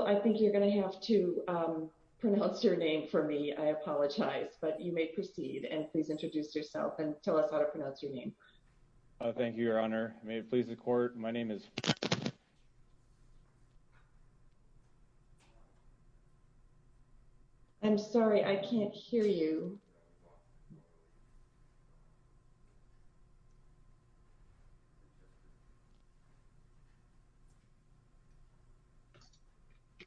I think you're going to have to pronounce your name for me. I apologize, but you may proceed and please introduce yourself and tell us how to pronounce your name. Thank you, Your Honor, may it please the court. My name is I'm sorry, I can't hear you. Okay.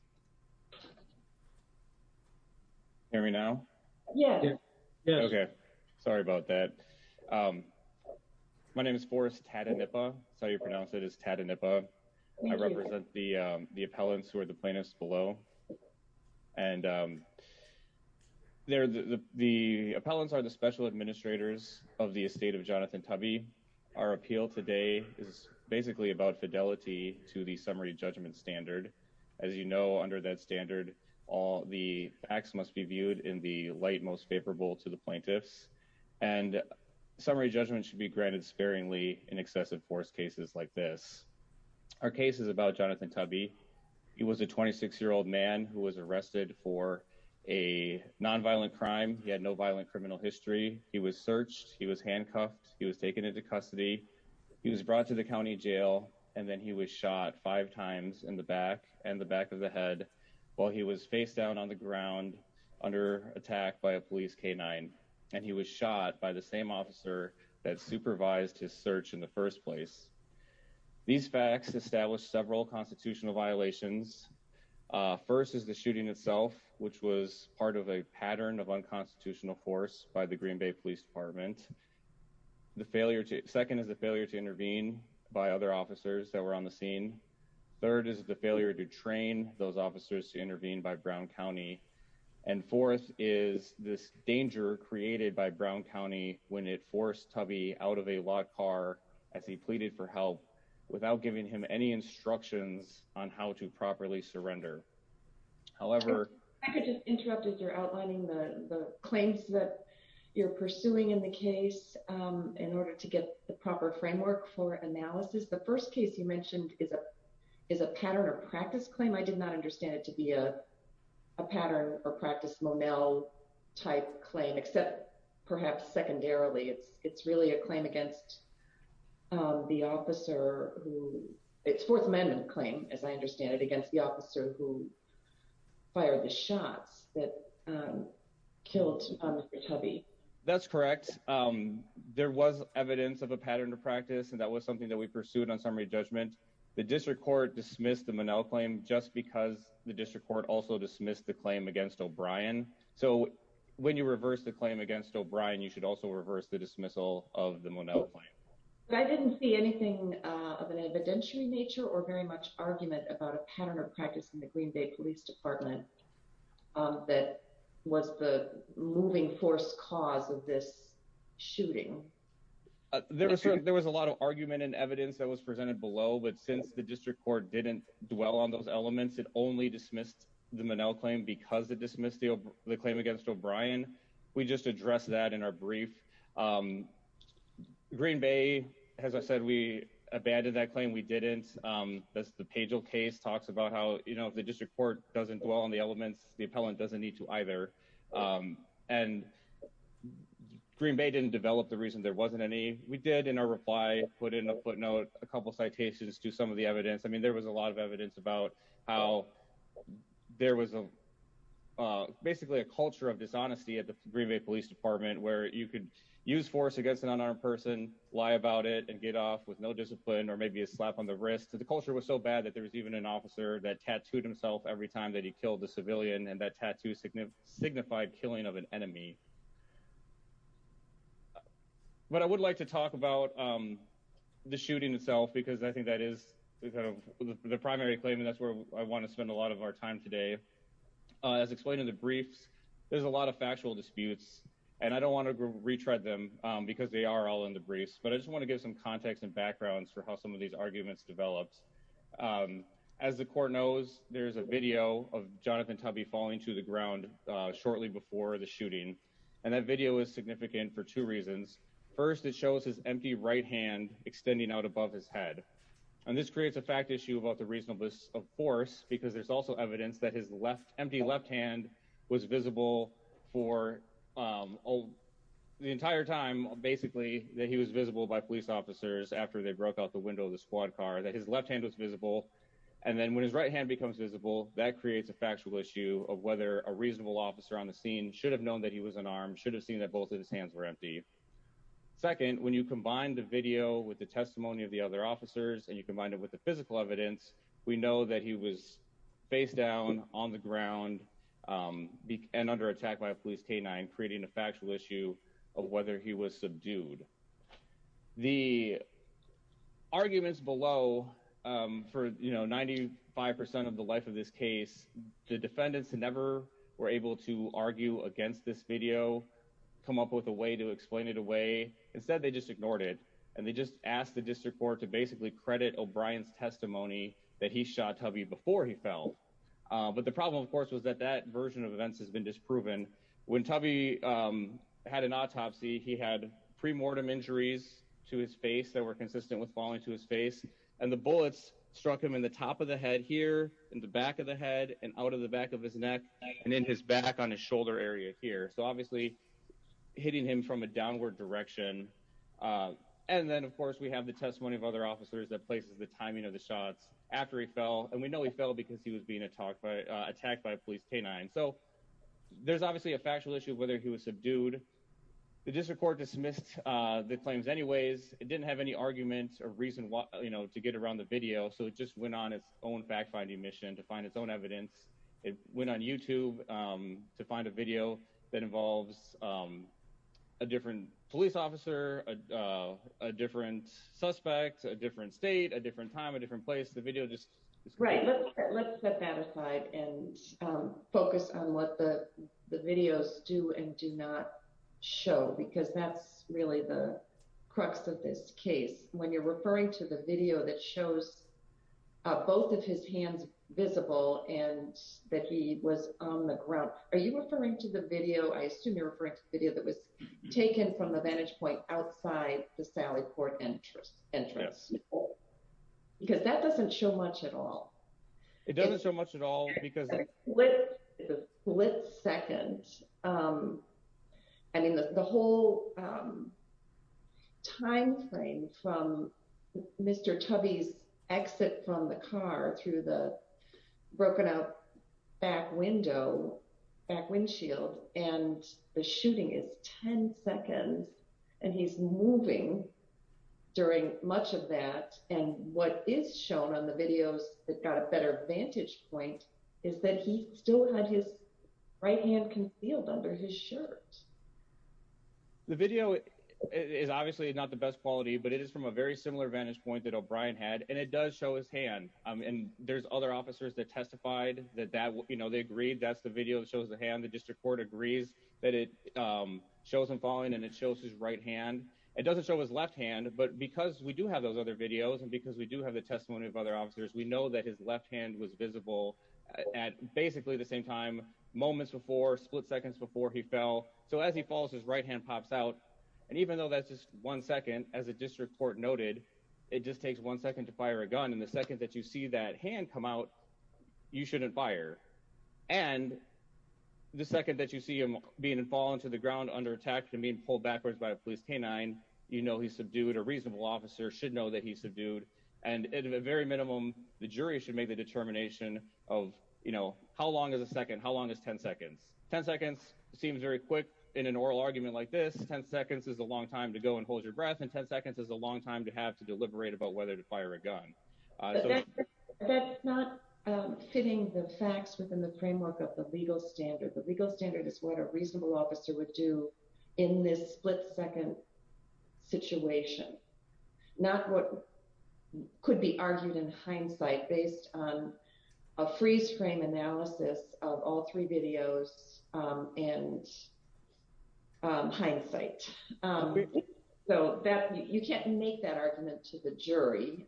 Hear me now. Yeah. Yeah. Okay. Sorry about that. My name is Forrest Tata Nipa, that's how you pronounce it is Tata Nipa. I represent the appellants who are the plaintiffs below. And they're the appellants are the special administrators of the estate of Jonathan tubby. Our appeal today is basically about fidelity to the summary judgment standard. As you know, under that standard, all the facts must be viewed in the light most favorable to the plaintiffs and summary judgment should be granted sparingly in excessive force cases like this. Our case is about Jonathan tubby. He was a 26 year old man who was arrested for a non violent crime, he had no violent criminal history, he was searched, he was handcuffed, he was taken into custody. He was brought to the county jail, and then he was shot five times in the back, and the back of the head, while he was face down on the ground under attack by a police canine, and he was shot by the same officer that supervised his search in the first place. These facts establish several constitutional violations. First is the shooting itself, which was part of a pattern of unconstitutional force by the Green Bay Police Department. The failure to second is a failure to intervene by other officers that were on the scene. Third is the failure to train those officers to intervene by Brown County. And fourth is this danger created by Brown County, when it forced tubby out of a lot car as he pleaded for help without giving him any instructions on how to properly surrender. However, interrupted you're outlining the claims that you're pursuing in the case. In order to get the proper framework for analysis the first case you mentioned is a is a pattern of practice claim I did not understand it to be a pattern or practice Monell type claim except perhaps secondarily it's it's really a claim against the officer. It's Fourth Amendment claim, as I understand it against the officer who fired the shots that killed tubby. That's correct. There was evidence of a pattern of practice and that was something that we pursued on summary judgment. The district court dismissed the Monell claim just because the district court also dismissed the claim against O'Brien. So, when you reverse the claim against O'Brien you should also reverse the dismissal of the Monell claim. I didn't see anything of an evidentiary nature or very much argument about a pattern of practice in the Green Bay Police Department. That was the moving force cause of this shooting. There was there was a lot of argument and evidence that was presented below but since the district court didn't dwell on those elements it only dismissed the Monell claim because it dismissed the claim against O'Brien. We just address that in our brief. Green Bay, as I said we abandoned that claim we didn't. That's the page of case talks about how you know the district court doesn't dwell on the elements, the appellant doesn't need to either. And Green Bay didn't develop the reason there wasn't any, we did in our reply, put in a footnote, a couple citations to some of the evidence I mean there was a lot of evidence about how there was a basically a culture of dishonesty at the Green Bay Police Department where you could use force against an unarmed person, lie about it and get off with no discipline or maybe a slap on the wrist. The culture was so bad that there was even an officer that tattooed himself every time that he killed a civilian and that tattoo signified killing of an enemy. But I would like to talk about the shooting itself because I think that is the primary claim and that's where I want to spend a lot of our time today. As explained in the briefs. There's a lot of factual disputes, and I don't want to retread them because they are all in the briefs but I just want to give some context and backgrounds for how some of these arguments developed. As the court knows, there's a video of Jonathan tubby falling to the ground. Shortly before the shooting. And that video is significant for two reasons. First it shows his empty right hand extending out above his head. And this creates a fact issue about the reasonableness of force, because there's also evidence that his left empty left hand was visible for the entire time, basically, that he was visible by police officers after they broke out the window the squad car that his left hand was visible. And then when his right hand becomes visible that creates a factual issue of whether a reasonable officer on the scene should have known that he was an arm should have seen that both of his hands were empty. Second, when you combine the video with the testimony of the other officers and you combine it with the physical evidence, we know that he was face down on the ground, and under attack by police canine creating a factual issue of whether he was subdued. The arguments below for you know 95% of the life of this case, the defendants never were able to argue against this video, come up with a way to explain it away. Instead, they just ignored it. And they just asked the district court to basically credit O'Brien's testimony that he shot tubby before he fell. But the problem of course was that that version of events has been disproven. When tubby had an autopsy he had premortem injuries to his face that were consistent with falling to his face, and the bullets struck him in the top of the head here in the back of the head and out of the back of his neck, and in his back on his shoulder area here so obviously hitting him from a downward direction. And then of course we have the testimony of other officers that places the timing of the shots after he fell and we know he fell because he was being attacked by police canine so there's obviously a factual issue of whether he was subdued. The district court dismissed the claims anyways, it didn't have any arguments or reason why you know to get around the video so it just went on its own fact finding mission to find its own evidence. It went on YouTube to find a video that involves a different police officer, a different suspect a different state a different time a different place the video just right. Let's set that aside and focus on what the videos do and do not show because that's really the crux of this case, when you're referring to the video that shows both of his hands visible and that he was on the ground, are you referring to the video I assume you're referring to the video that was taken from the vantage point outside the Sally port entrance entrance. Because that doesn't show much at all. It doesn't show much at all because what let's second. I mean the whole time frame from Mr tubbies exit from the car through the broken out back window back windshield, and the shooting is 10 seconds, and he's moving during much of that. And what is shown on the videos that got a better vantage point is that he still had his right hand can feel under his shirt. The video is obviously not the best quality but it is from a very similar vantage point that O'Brien had and it does show his hand, and there's other officers that testified that that will you know they agreed that's the video shows the hand the district court agrees that it shows him falling and it shows his right hand. It doesn't show his left hand but because we do have those other videos and because we do have the testimony of other officers we know that his left hand was visible at basically the same time, moments before split seconds before he fell. So as he falls his right hand pops out. And even though that's just one second, as a district court noted, it just takes one second to fire a gun and the second that you see that hand come out. You shouldn't fire. And the second that you see him being fallen to the ground under attack and being pulled backwards by a police canine, you know he's subdued a reasonable officer should know that he's subdued, and at a very minimum, the jury should make the determination of, you know, how long is a second how long is 10 seconds 10 seconds seems very quick in an oral argument like this 10 seconds is a long time to go and hold your breath and 10 seconds is a long time to have to deliberate about whether to fire a gun. That's not fitting the facts within the framework of the legal standard the legal standard is what a reasonable officer would do in this split second situation, not what could be argued in hindsight based on a freeze frame analysis of all three videos and hindsight. So that you can't make that argument to the jury.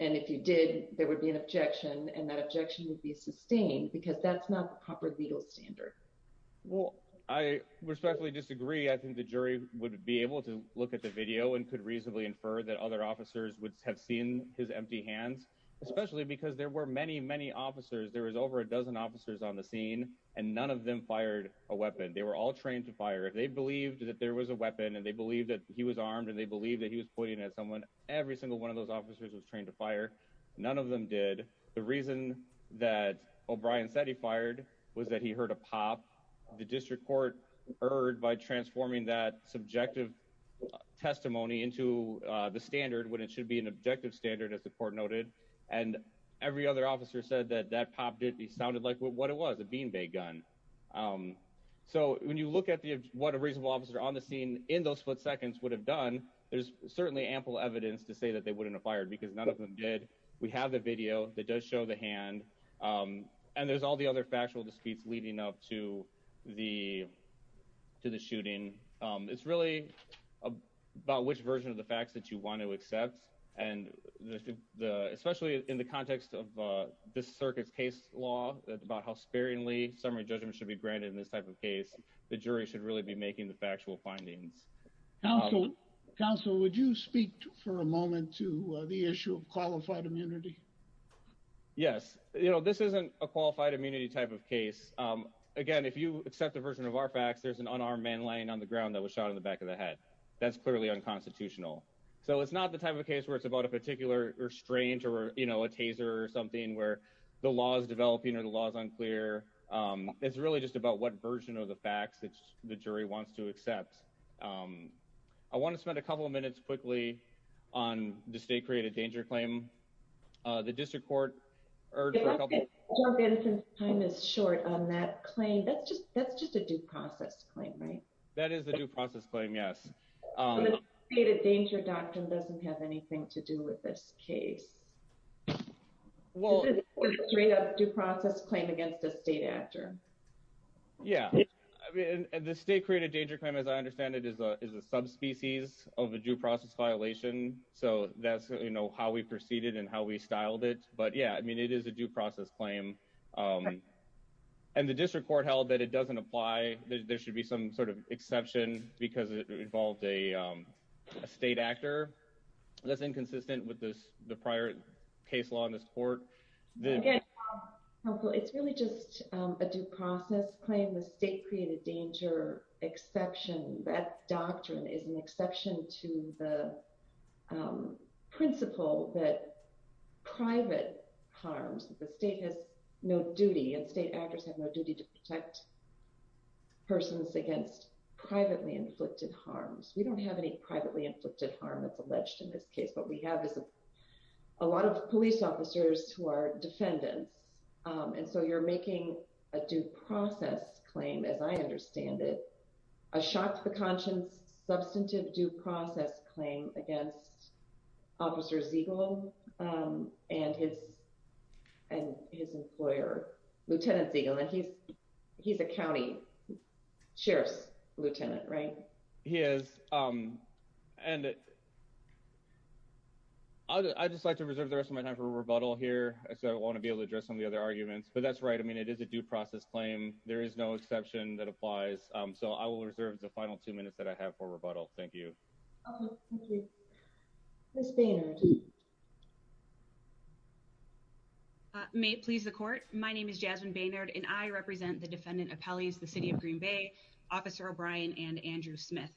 And if you did, there would be an objection and that objection would be sustained because that's not proper legal standard. Well, I respectfully disagree I think the jury would be able to look at the video and could reasonably infer that other officers would have seen his empty hands, especially because there were many many officers there was over a dozen officers on the scene, and none of them heard by transforming that subjective testimony into the standard when it should be an objective standard as the court noted, and every other officer said that that popped it sounded like what it was a bean bag gun. So, when you look at the, what a reasonable officer on the scene in those split seconds would have done. There's certainly ample evidence to say that they wouldn't have fired because none of them did. We have the video that does show the hand. And there's all the other factual disputes leading up to the, to the shooting. It's really about which version of the facts that you want to accept, and the, especially in the context of the circuits case law that about how sparingly summary judgment should be granted in this type of case, the jury should really be making the factual findings. Council, Council, would you speak for a moment to the issue of qualified immunity. Yes, you know this isn't a qualified immunity type of case. Again, if you accept the version of our facts there's an unarmed man laying on the ground that was shot in the back of the head. That's clearly unconstitutional. So it's not the type of case where it's about a particular or strange or, you know, a taser or something where the law is developing or the laws unclear. It's really just about what version of the facts that the jury wants to accept. I want to spend a couple of minutes quickly on the state created danger claim. The district court. Time is short on that claim that's just, that's just a due process claim right. That is the due process claim yes data danger doctrine doesn't have anything to do with this case. Well, three of due process claim against the state actor. Yeah, I mean, the state created danger claim as I understand it is a is a subspecies of a due process violation. So, that's how we proceeded and how we styled it, but yeah I mean it is a due process claim. And the district court held that it doesn't apply, there should be some sort of exception, because it involved a state actor. That's inconsistent with this, the prior case law in this court. It's really just a due process claim the state created danger exception that doctrine is an exception to the principle that private harms, the state has no duty and state actors have no duty to protect persons against privately inflicted harms, we don't have any privately inflicted harm that's alleged in this case what we have is a lot of police officers who are defendants. And so you're making a due process claim as I understand it. A shot to the conscience substantive due process claim against officers eagle, and his, and his employer, Lieutenant's eagle and he's, he's a county sheriff's lieutenant right, he is. And I just like to reserve the rest of my time for rebuttal here, so I want to be able to address some of the other arguments but that's right I mean it is a due process claim, there is no exception that applies. So I will reserve the final two minutes that I have for rebuttal. Thank you. Thank you. May it please the court. My name is Jasmine Baynard and I represent the defendant appellees the city of Green Bay officer O'Brien and Andrew Smith.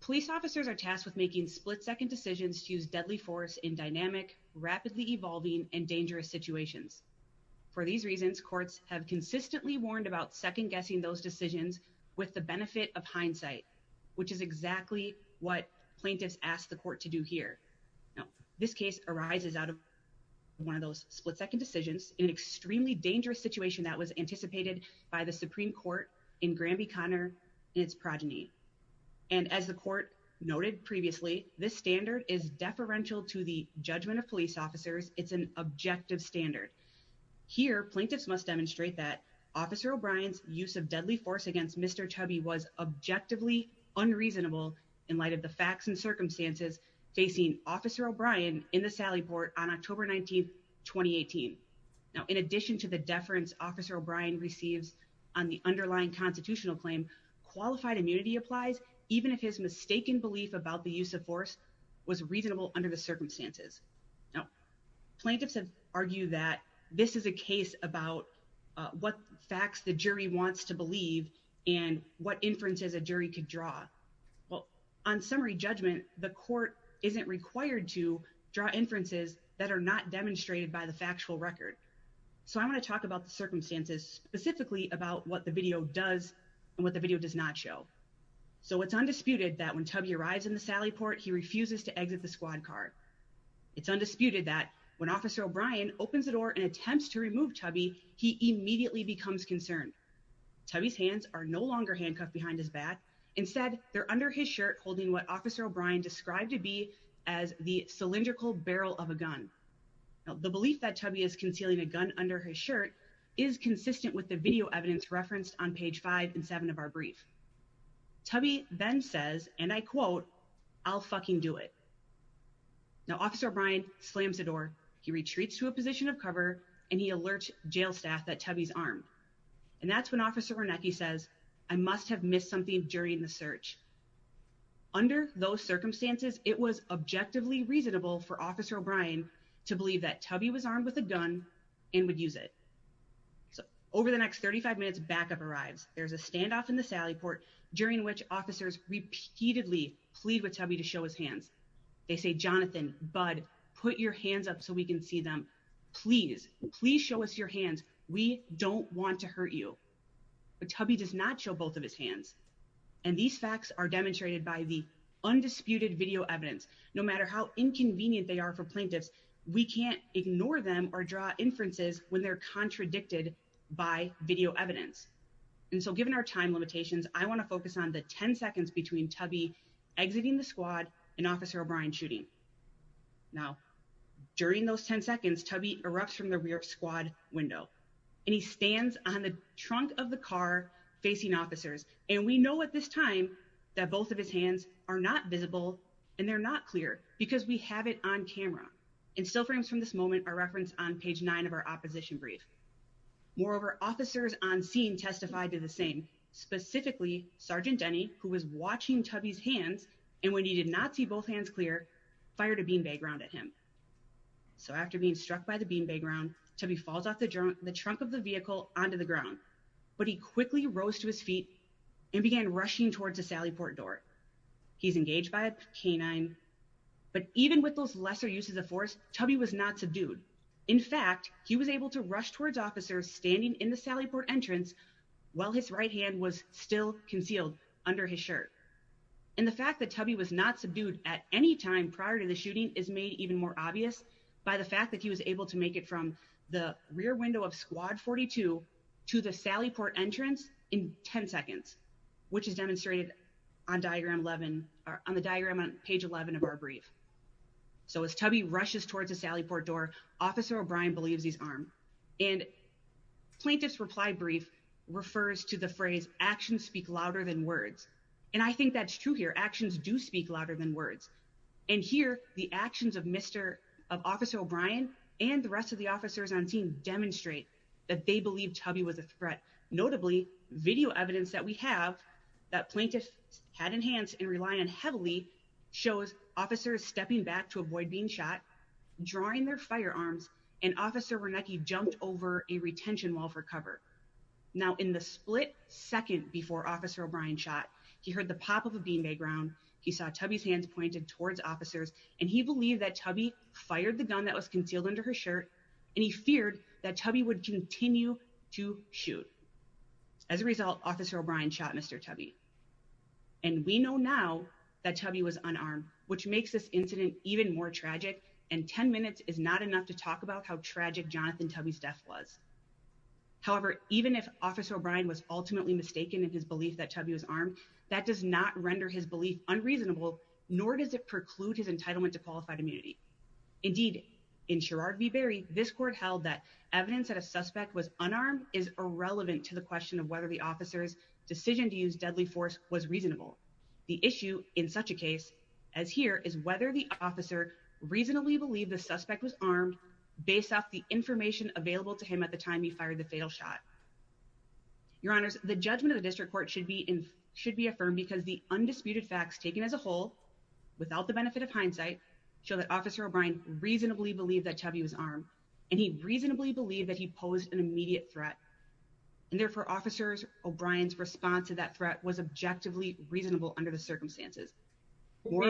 Police officers are tasked with making split second decisions to use deadly force in dynamic rapidly evolving and dangerous situations. For these reasons courts have consistently warned about second guessing those decisions, with the benefit of hindsight, which is exactly what plaintiffs asked the court to do here. This case arises out of one of those split second decisions in extremely dangerous situation that was anticipated by the Supreme Court in Granby Connor, its progeny. And as the court noted previously, this standard is deferential to the judgment of police officers, it's an objective standard here plaintiffs must demonstrate that officer O'Brien's use of deadly force against Mr. Chubby was objectively unreasonable in light of the facts and circumstances, facing officer O'Brien in the Sally port on October 19 2018. Now, in addition to the deference officer O'Brien receives on the underlying constitutional claim qualified immunity applies, even if his mistaken belief about the use of force was reasonable under the circumstances. Now, plaintiffs have argued that this is a case about what facts the jury wants to believe and what inferences a jury could draw. Well, on summary judgment, the court isn't required to draw inferences that are not demonstrated by the factual record. So I want to talk about the circumstances specifically about what the video does, and what the video does not show. So it's undisputed that when Chubby arrives in the Sally port he refuses to exit the squad car. It's undisputed that when officer O'Brien opens the door and attempts to remove Chubby, he immediately becomes concerned. Chubby's hands are no longer handcuffed behind his back. Instead, they're under his shirt holding what officer O'Brien described to be as the cylindrical barrel of a gun. The belief that Chubby is concealing a gun under his shirt is consistent with the video evidence referenced on page five and seven of our brief. Chubby then says, and I quote, I'll fucking do it. Now officer O'Brien slams the door, he retreats to a position of cover, and he alerts jail staff that Chubby's armed. And that's when officer Wernicke says, I must have missed something during the search. Under those circumstances, it was objectively reasonable for officer O'Brien to believe that Chubby was armed with a gun and would use it. So over the next 35 minutes backup arrives. There's a standoff in the Sally port, during which officers repeatedly plead with Chubby to show his hands. They say, Jonathan, Bud, put your hands up so we can see them. Please, please show us your hands. We don't want to hurt you. But Chubby does not show both of his hands. And these facts are demonstrated by the undisputed video evidence, no matter how inconvenient they are for plaintiffs. We can't ignore them or draw inferences when they're contradicted by video evidence. And so given our time limitations, I want to focus on the 10 seconds between Chubby exiting the squad and officer O'Brien shooting. Now, during those 10 seconds, Chubby erupts from the rear squad window, and he stands on the trunk of the car facing officers. And we know at this time that both of his hands are not visible and they're not clear because we have it on camera. And still frames from this moment are referenced on page nine of our opposition brief. Moreover, officers on scene testified to the same. Specifically, Sergeant Denny, who was watching Chubby's hands, and when he did not see both hands clear, fired a bean bag round at him. So after being struck by the bean bag round, Chubby falls off the trunk of the vehicle onto the ground, but he quickly rose to his feet and began rushing towards the Sally port door. He's engaged by a canine. But even with those lesser uses of force, Chubby was not subdued. In fact, he was able to rush towards officers standing in the Sally port entrance, while his right hand was still concealed under his shirt. And the fact that Chubby was not subdued at any time prior to the shooting is made even more obvious by the fact that he was able to make it from the rear window of squad 42 to the Sally port entrance in 10 seconds. This is demonstrated on the diagram on page 11 of our brief. So as Chubby rushes towards the Sally port door, Officer O'Brien believes he's armed. And plaintiff's reply brief refers to the phrase, actions speak louder than words. And I think that's true here. Actions do speak louder than words. And here, the actions of Officer O'Brien and the rest of the officers on scene demonstrate that they believe Chubby was a threat. Notably, video evidence that we have that plaintiffs had in hand and rely on heavily shows officers stepping back to avoid being shot, drawing their firearms, and Officer Wernicke jumped over a retention wall for cover. Now in the split second before Officer O'Brien shot, he heard the pop of a bean bag round, he saw Chubby's hands pointed towards officers, and he believed that Chubby fired the gun that was concealed under her shirt, and he feared that Chubby would continue to shoot. As a result, Officer O'Brien shot Mr. Chubby. And we know now that Chubby was unarmed, which makes this incident even more tragic, and 10 minutes is not enough to talk about how tragic Jonathan Chubby's death was. However, even if Officer O'Brien was ultimately mistaken in his belief that Chubby was armed, that does not render his belief unreasonable, nor does it preclude his entitlement to qualified immunity. Indeed, in Sherrard v. Berry, this court held that evidence that a suspect was unarmed is irrelevant to the question of whether the officer's decision to use deadly force was reasonable. The issue in such a case as here is whether the officer reasonably believed the suspect was armed based off the information available to him at the time he fired the fatal shot. Your Honors, the judgment of the district court should be affirmed because the undisputed facts taken as a whole, without the benefit of hindsight, show that Officer O'Brien reasonably believed that Chubby was armed, and he reasonably believed that he posed an immediate threat. And therefore, Officer O'Brien's response to that threat was objectively reasonable under the circumstances. Your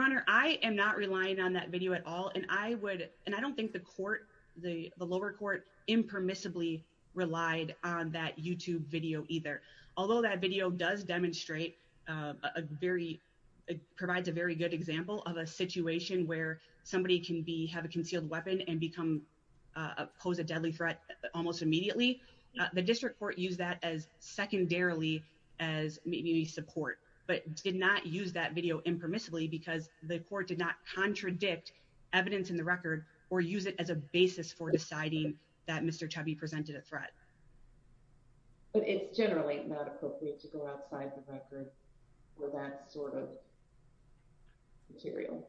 Honor, I am not relying on that video at all, and I don't think the lower court impermissibly relied on that YouTube video either. Although that video does demonstrate, provides a very good example of a situation where somebody can have a concealed weapon and pose a deadly threat almost immediately, the district court used that as secondarily as maybe support, but did not use that video impermissibly because the court did not contradict evidence in the record or use it as a basis for deciding that Mr. Chubby presented a threat. But it's generally not appropriate to go outside the record for that sort of material.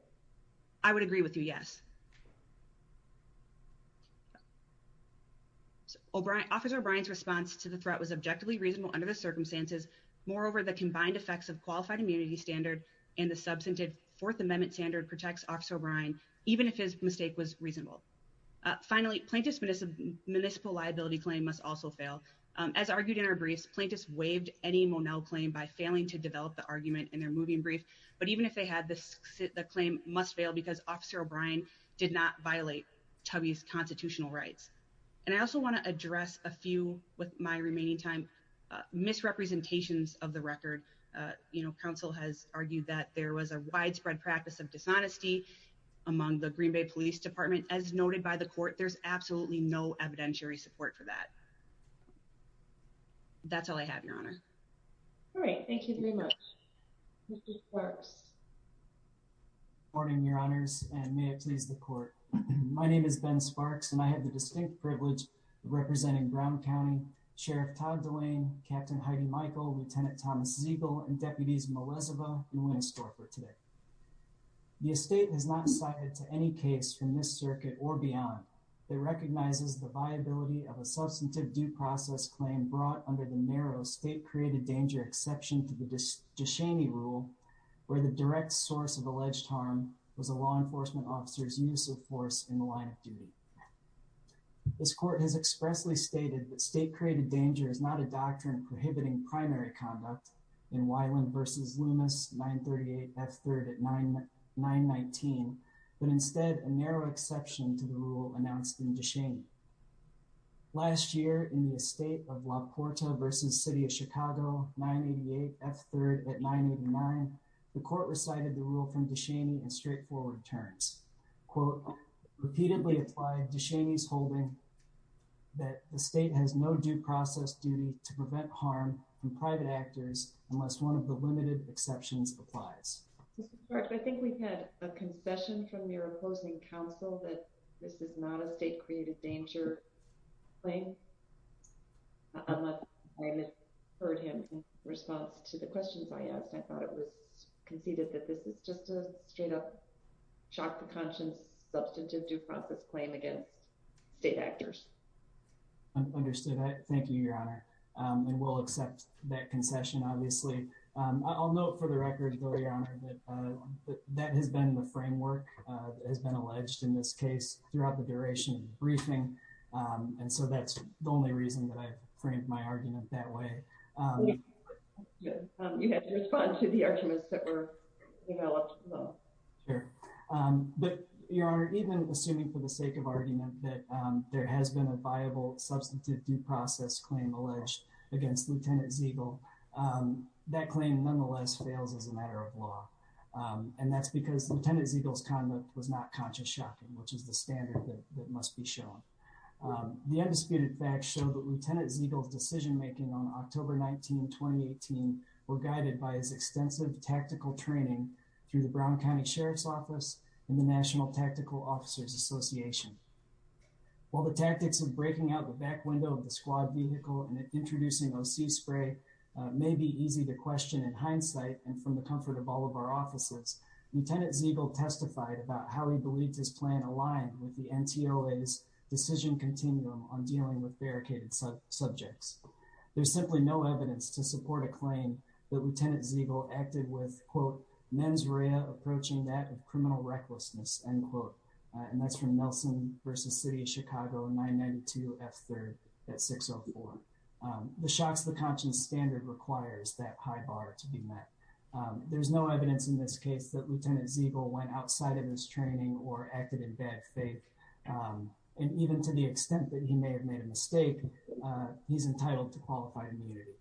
I would agree with you, yes. Officer O'Brien's response to the threat was objectively reasonable under the circumstances. Moreover, the combined effects of qualified immunity standard and the substantive Fourth Amendment standard protects Officer O'Brien, even if his mistake was reasonable. Finally, plaintiff's municipal liability claim must also fail. As argued in our briefs, plaintiffs waived any Monell claim by failing to develop the argument in their moving brief. But even if they had, the claim must fail because Officer O'Brien did not violate Chubby's constitutional rights. And I also want to address a few, with my remaining time, misrepresentations of the record. You know, counsel has argued that there was a widespread practice of dishonesty among the Green Bay Police Department. As noted by the court, there's absolutely no evidentiary support for that. That's all I have, Your Honor. All right, thank you very much. Mr. Sparks. Good morning, Your Honors, and may it please the court. My name is Ben Sparks, and I have the distinct privilege of representing Brown County Sheriff Todd DeWayne, Captain Heidi Michael, Lieutenant Thomas Ziegle, and Deputies Melezova and Winstor for today. The estate has not cited to any case from this circuit or beyond that recognizes the viability of a substantive due process claim brought under the narrow state-created danger exception to the Ducheney Rule, where the direct source of alleged harm was a law enforcement officer's use of force in the line of duty. This court has expressly stated that state-created danger is not a doctrine prohibiting primary conduct in Weiland v. Loomis, 938 F. 3rd at 919, but instead a narrow exception to the rule announced in Ducheney. Last year, in the estate of La Porta v. City of Chicago, 988 F. 3rd at 989, the court recited the rule from Ducheney in straightforward terms. Quote, repeatedly applied Ducheney's holding that the state has no due process duty to prevent harm from private actors unless one of the limited exceptions applies. Mr. Clark, I think we've had a concession from your opposing counsel that this is not a state-created danger claim. I haven't heard him in response to the questions I asked. I thought it was conceded that this is just a straight-up, shock to conscience, substantive due process claim against state actors. Understood. Thank you, Your Honor. And we'll accept that concession, obviously. I'll note for the record, though, Your Honor, that that has been the framework that has been alleged in this case throughout the duration of the briefing. And so that's the only reason that I framed my argument that way. You had to respond to the arguments that were developed. Sure. But, Your Honor, even assuming for the sake of argument that there has been a viable substantive due process claim alleged against Lieutenant Zegel, that claim nonetheless fails as a matter of law. And that's because Lieutenant Zegel's comment was not conscious shocking, which is the standard that must be shown. The undisputed facts show that Lieutenant Zegel's decision-making on October 19, 2018 were guided by his extensive tactical training through the Brown County Sheriff's Office and the National Tactical Officers Association. While the tactics of breaking out the back window of the squad vehicle and introducing OC spray may be easy to question in hindsight and from the comfort of all of our offices, Lieutenant Zegel testified about how he believed his plan aligned with the NTOA's decision continuum on dealing with barricaded subjects. There's simply no evidence to support a claim that Lieutenant Zegel acted with, quote, mens rea approaching that of criminal recklessness, end quote. And that's from Nelson v. City of Chicago in 992 F. 3rd at 604. The shots to the conscience standard requires that high bar to be met. There's no evidence in this case that Lieutenant Zegel went outside of his training or acted in bad faith. And even to the extent that he may have made a mistake, he's entitled to qualified immunity.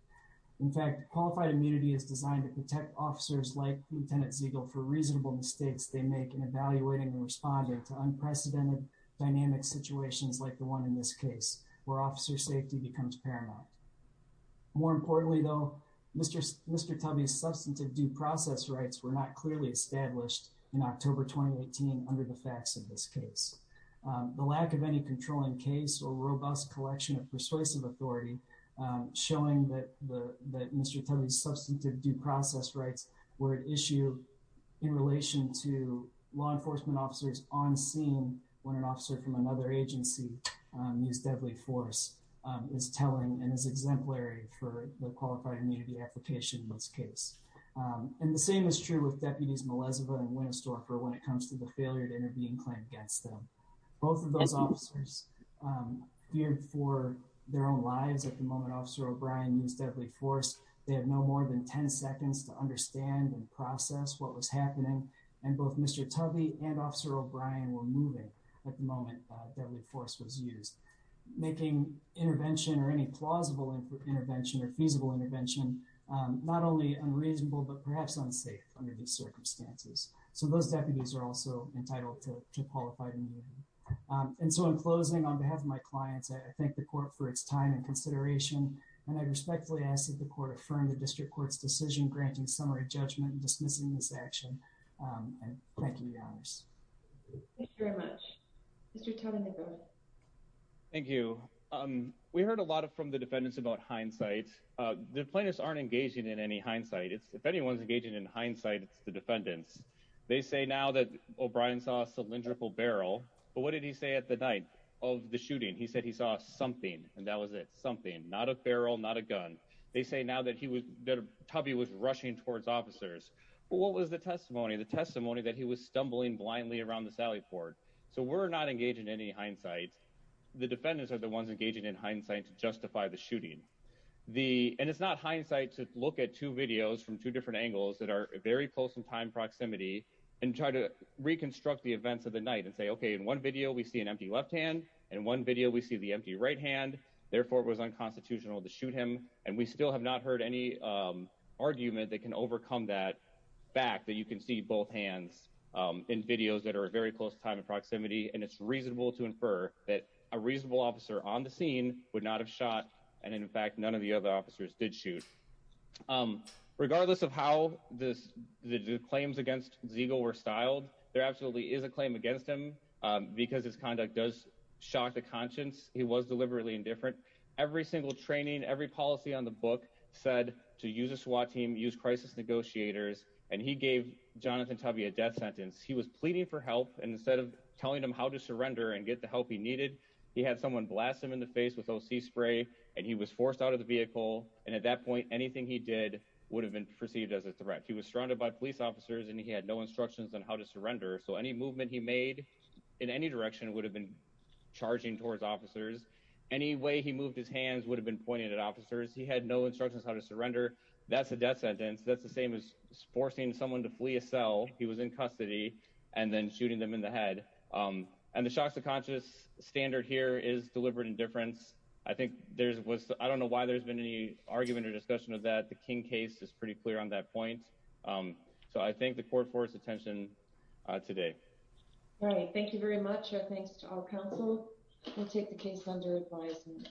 In fact, qualified immunity is designed to protect officers like Lieutenant Zegel for reasonable mistakes they make in evaluating and responding to unprecedented dynamic situations like the one in this case, where officer safety becomes paramount. More importantly, though, Mr. Tubby's substantive due process rights were not clearly established in October 2018 under the facts of this case. The lack of any controlling case or robust collection of persuasive authority, showing that Mr. Tubby's substantive due process rights were at issue in relation to law enforcement officers on scene when an officer from another agency used deadly force, is telling and is exemplary for the qualified immunity application in this case. And the same is true with Deputies Melezova and Winstorfer when it comes to the failure to intervene claim against them. Both of those officers feared for their own lives at the moment Officer O'Brien used deadly force. They have no more than 10 seconds to understand and process what was happening. And both Mr. Tubby and Officer O'Brien were moving at the moment deadly force was used. Making intervention or any plausible intervention or feasible intervention, not only unreasonable, but perhaps unsafe under these circumstances. So those deputies are also entitled to qualified immunity. And so in closing, on behalf of my clients, I thank the court for its time and consideration. And I respectfully ask that the court affirm the District Court's decision granting summary judgment and dismissing this action. And thank you, Your Honors. Thank you very much. Mr. Tonenegro. Thank you. We heard a lot from the defendants about hindsight. The plaintiffs aren't engaging in any hindsight. If anyone's engaging in hindsight, it's the defendants. They say now that O'Brien saw a cylindrical barrel. But what did he say at the night of the shooting? He said he saw something and that was it. Something. Not a barrel, not a gun. They say now that Tubby was rushing towards officers. But what was the testimony? The testimony that he was stumbling blindly around the sally port. They're not engaging in any hindsight. The defendants are the ones engaging in hindsight to justify the shooting. And it's not hindsight to look at two videos from two different angles that are very close in time proximity and try to reconstruct the events of the night and say, OK, in one video, we see an empty left hand. In one video, we see the empty right hand. Therefore, it was unconstitutional to shoot him. And we still have not heard any argument that can overcome that fact that you can see both hands in videos that are very close time and proximity. And it's reasonable to infer that a reasonable officer on the scene would not have shot. And in fact, none of the other officers did shoot. Regardless of how this claims against Zegel were styled, there absolutely is a claim against him because his conduct does shock the conscience. He was deliberately indifferent. Every single training, every policy on the book said to use a SWAT team, use crisis negotiators. And he gave Jonathan Tubby a death sentence. He was pleading for help. And instead of telling him how to surrender and get the help he needed, he had someone blast him in the face with O.C. spray and he was forced out of the vehicle. And at that point, anything he did would have been perceived as a threat. He was surrounded by police officers and he had no instructions on how to surrender. So any movement he made in any direction would have been charging towards officers. Any way he moved his hands would have been pointed at officers. He had no instructions how to surrender. That's a death sentence. He was forcing someone to flee a cell. He was in custody and then shooting them in the head. And the shock to conscience standard here is deliberate indifference. I don't know why there's been any argument or discussion of that. The King case is pretty clear on that point. So I thank the court for its attention today. All right. Thank you very much. Thanks to our counsel. We'll take the case under advisement.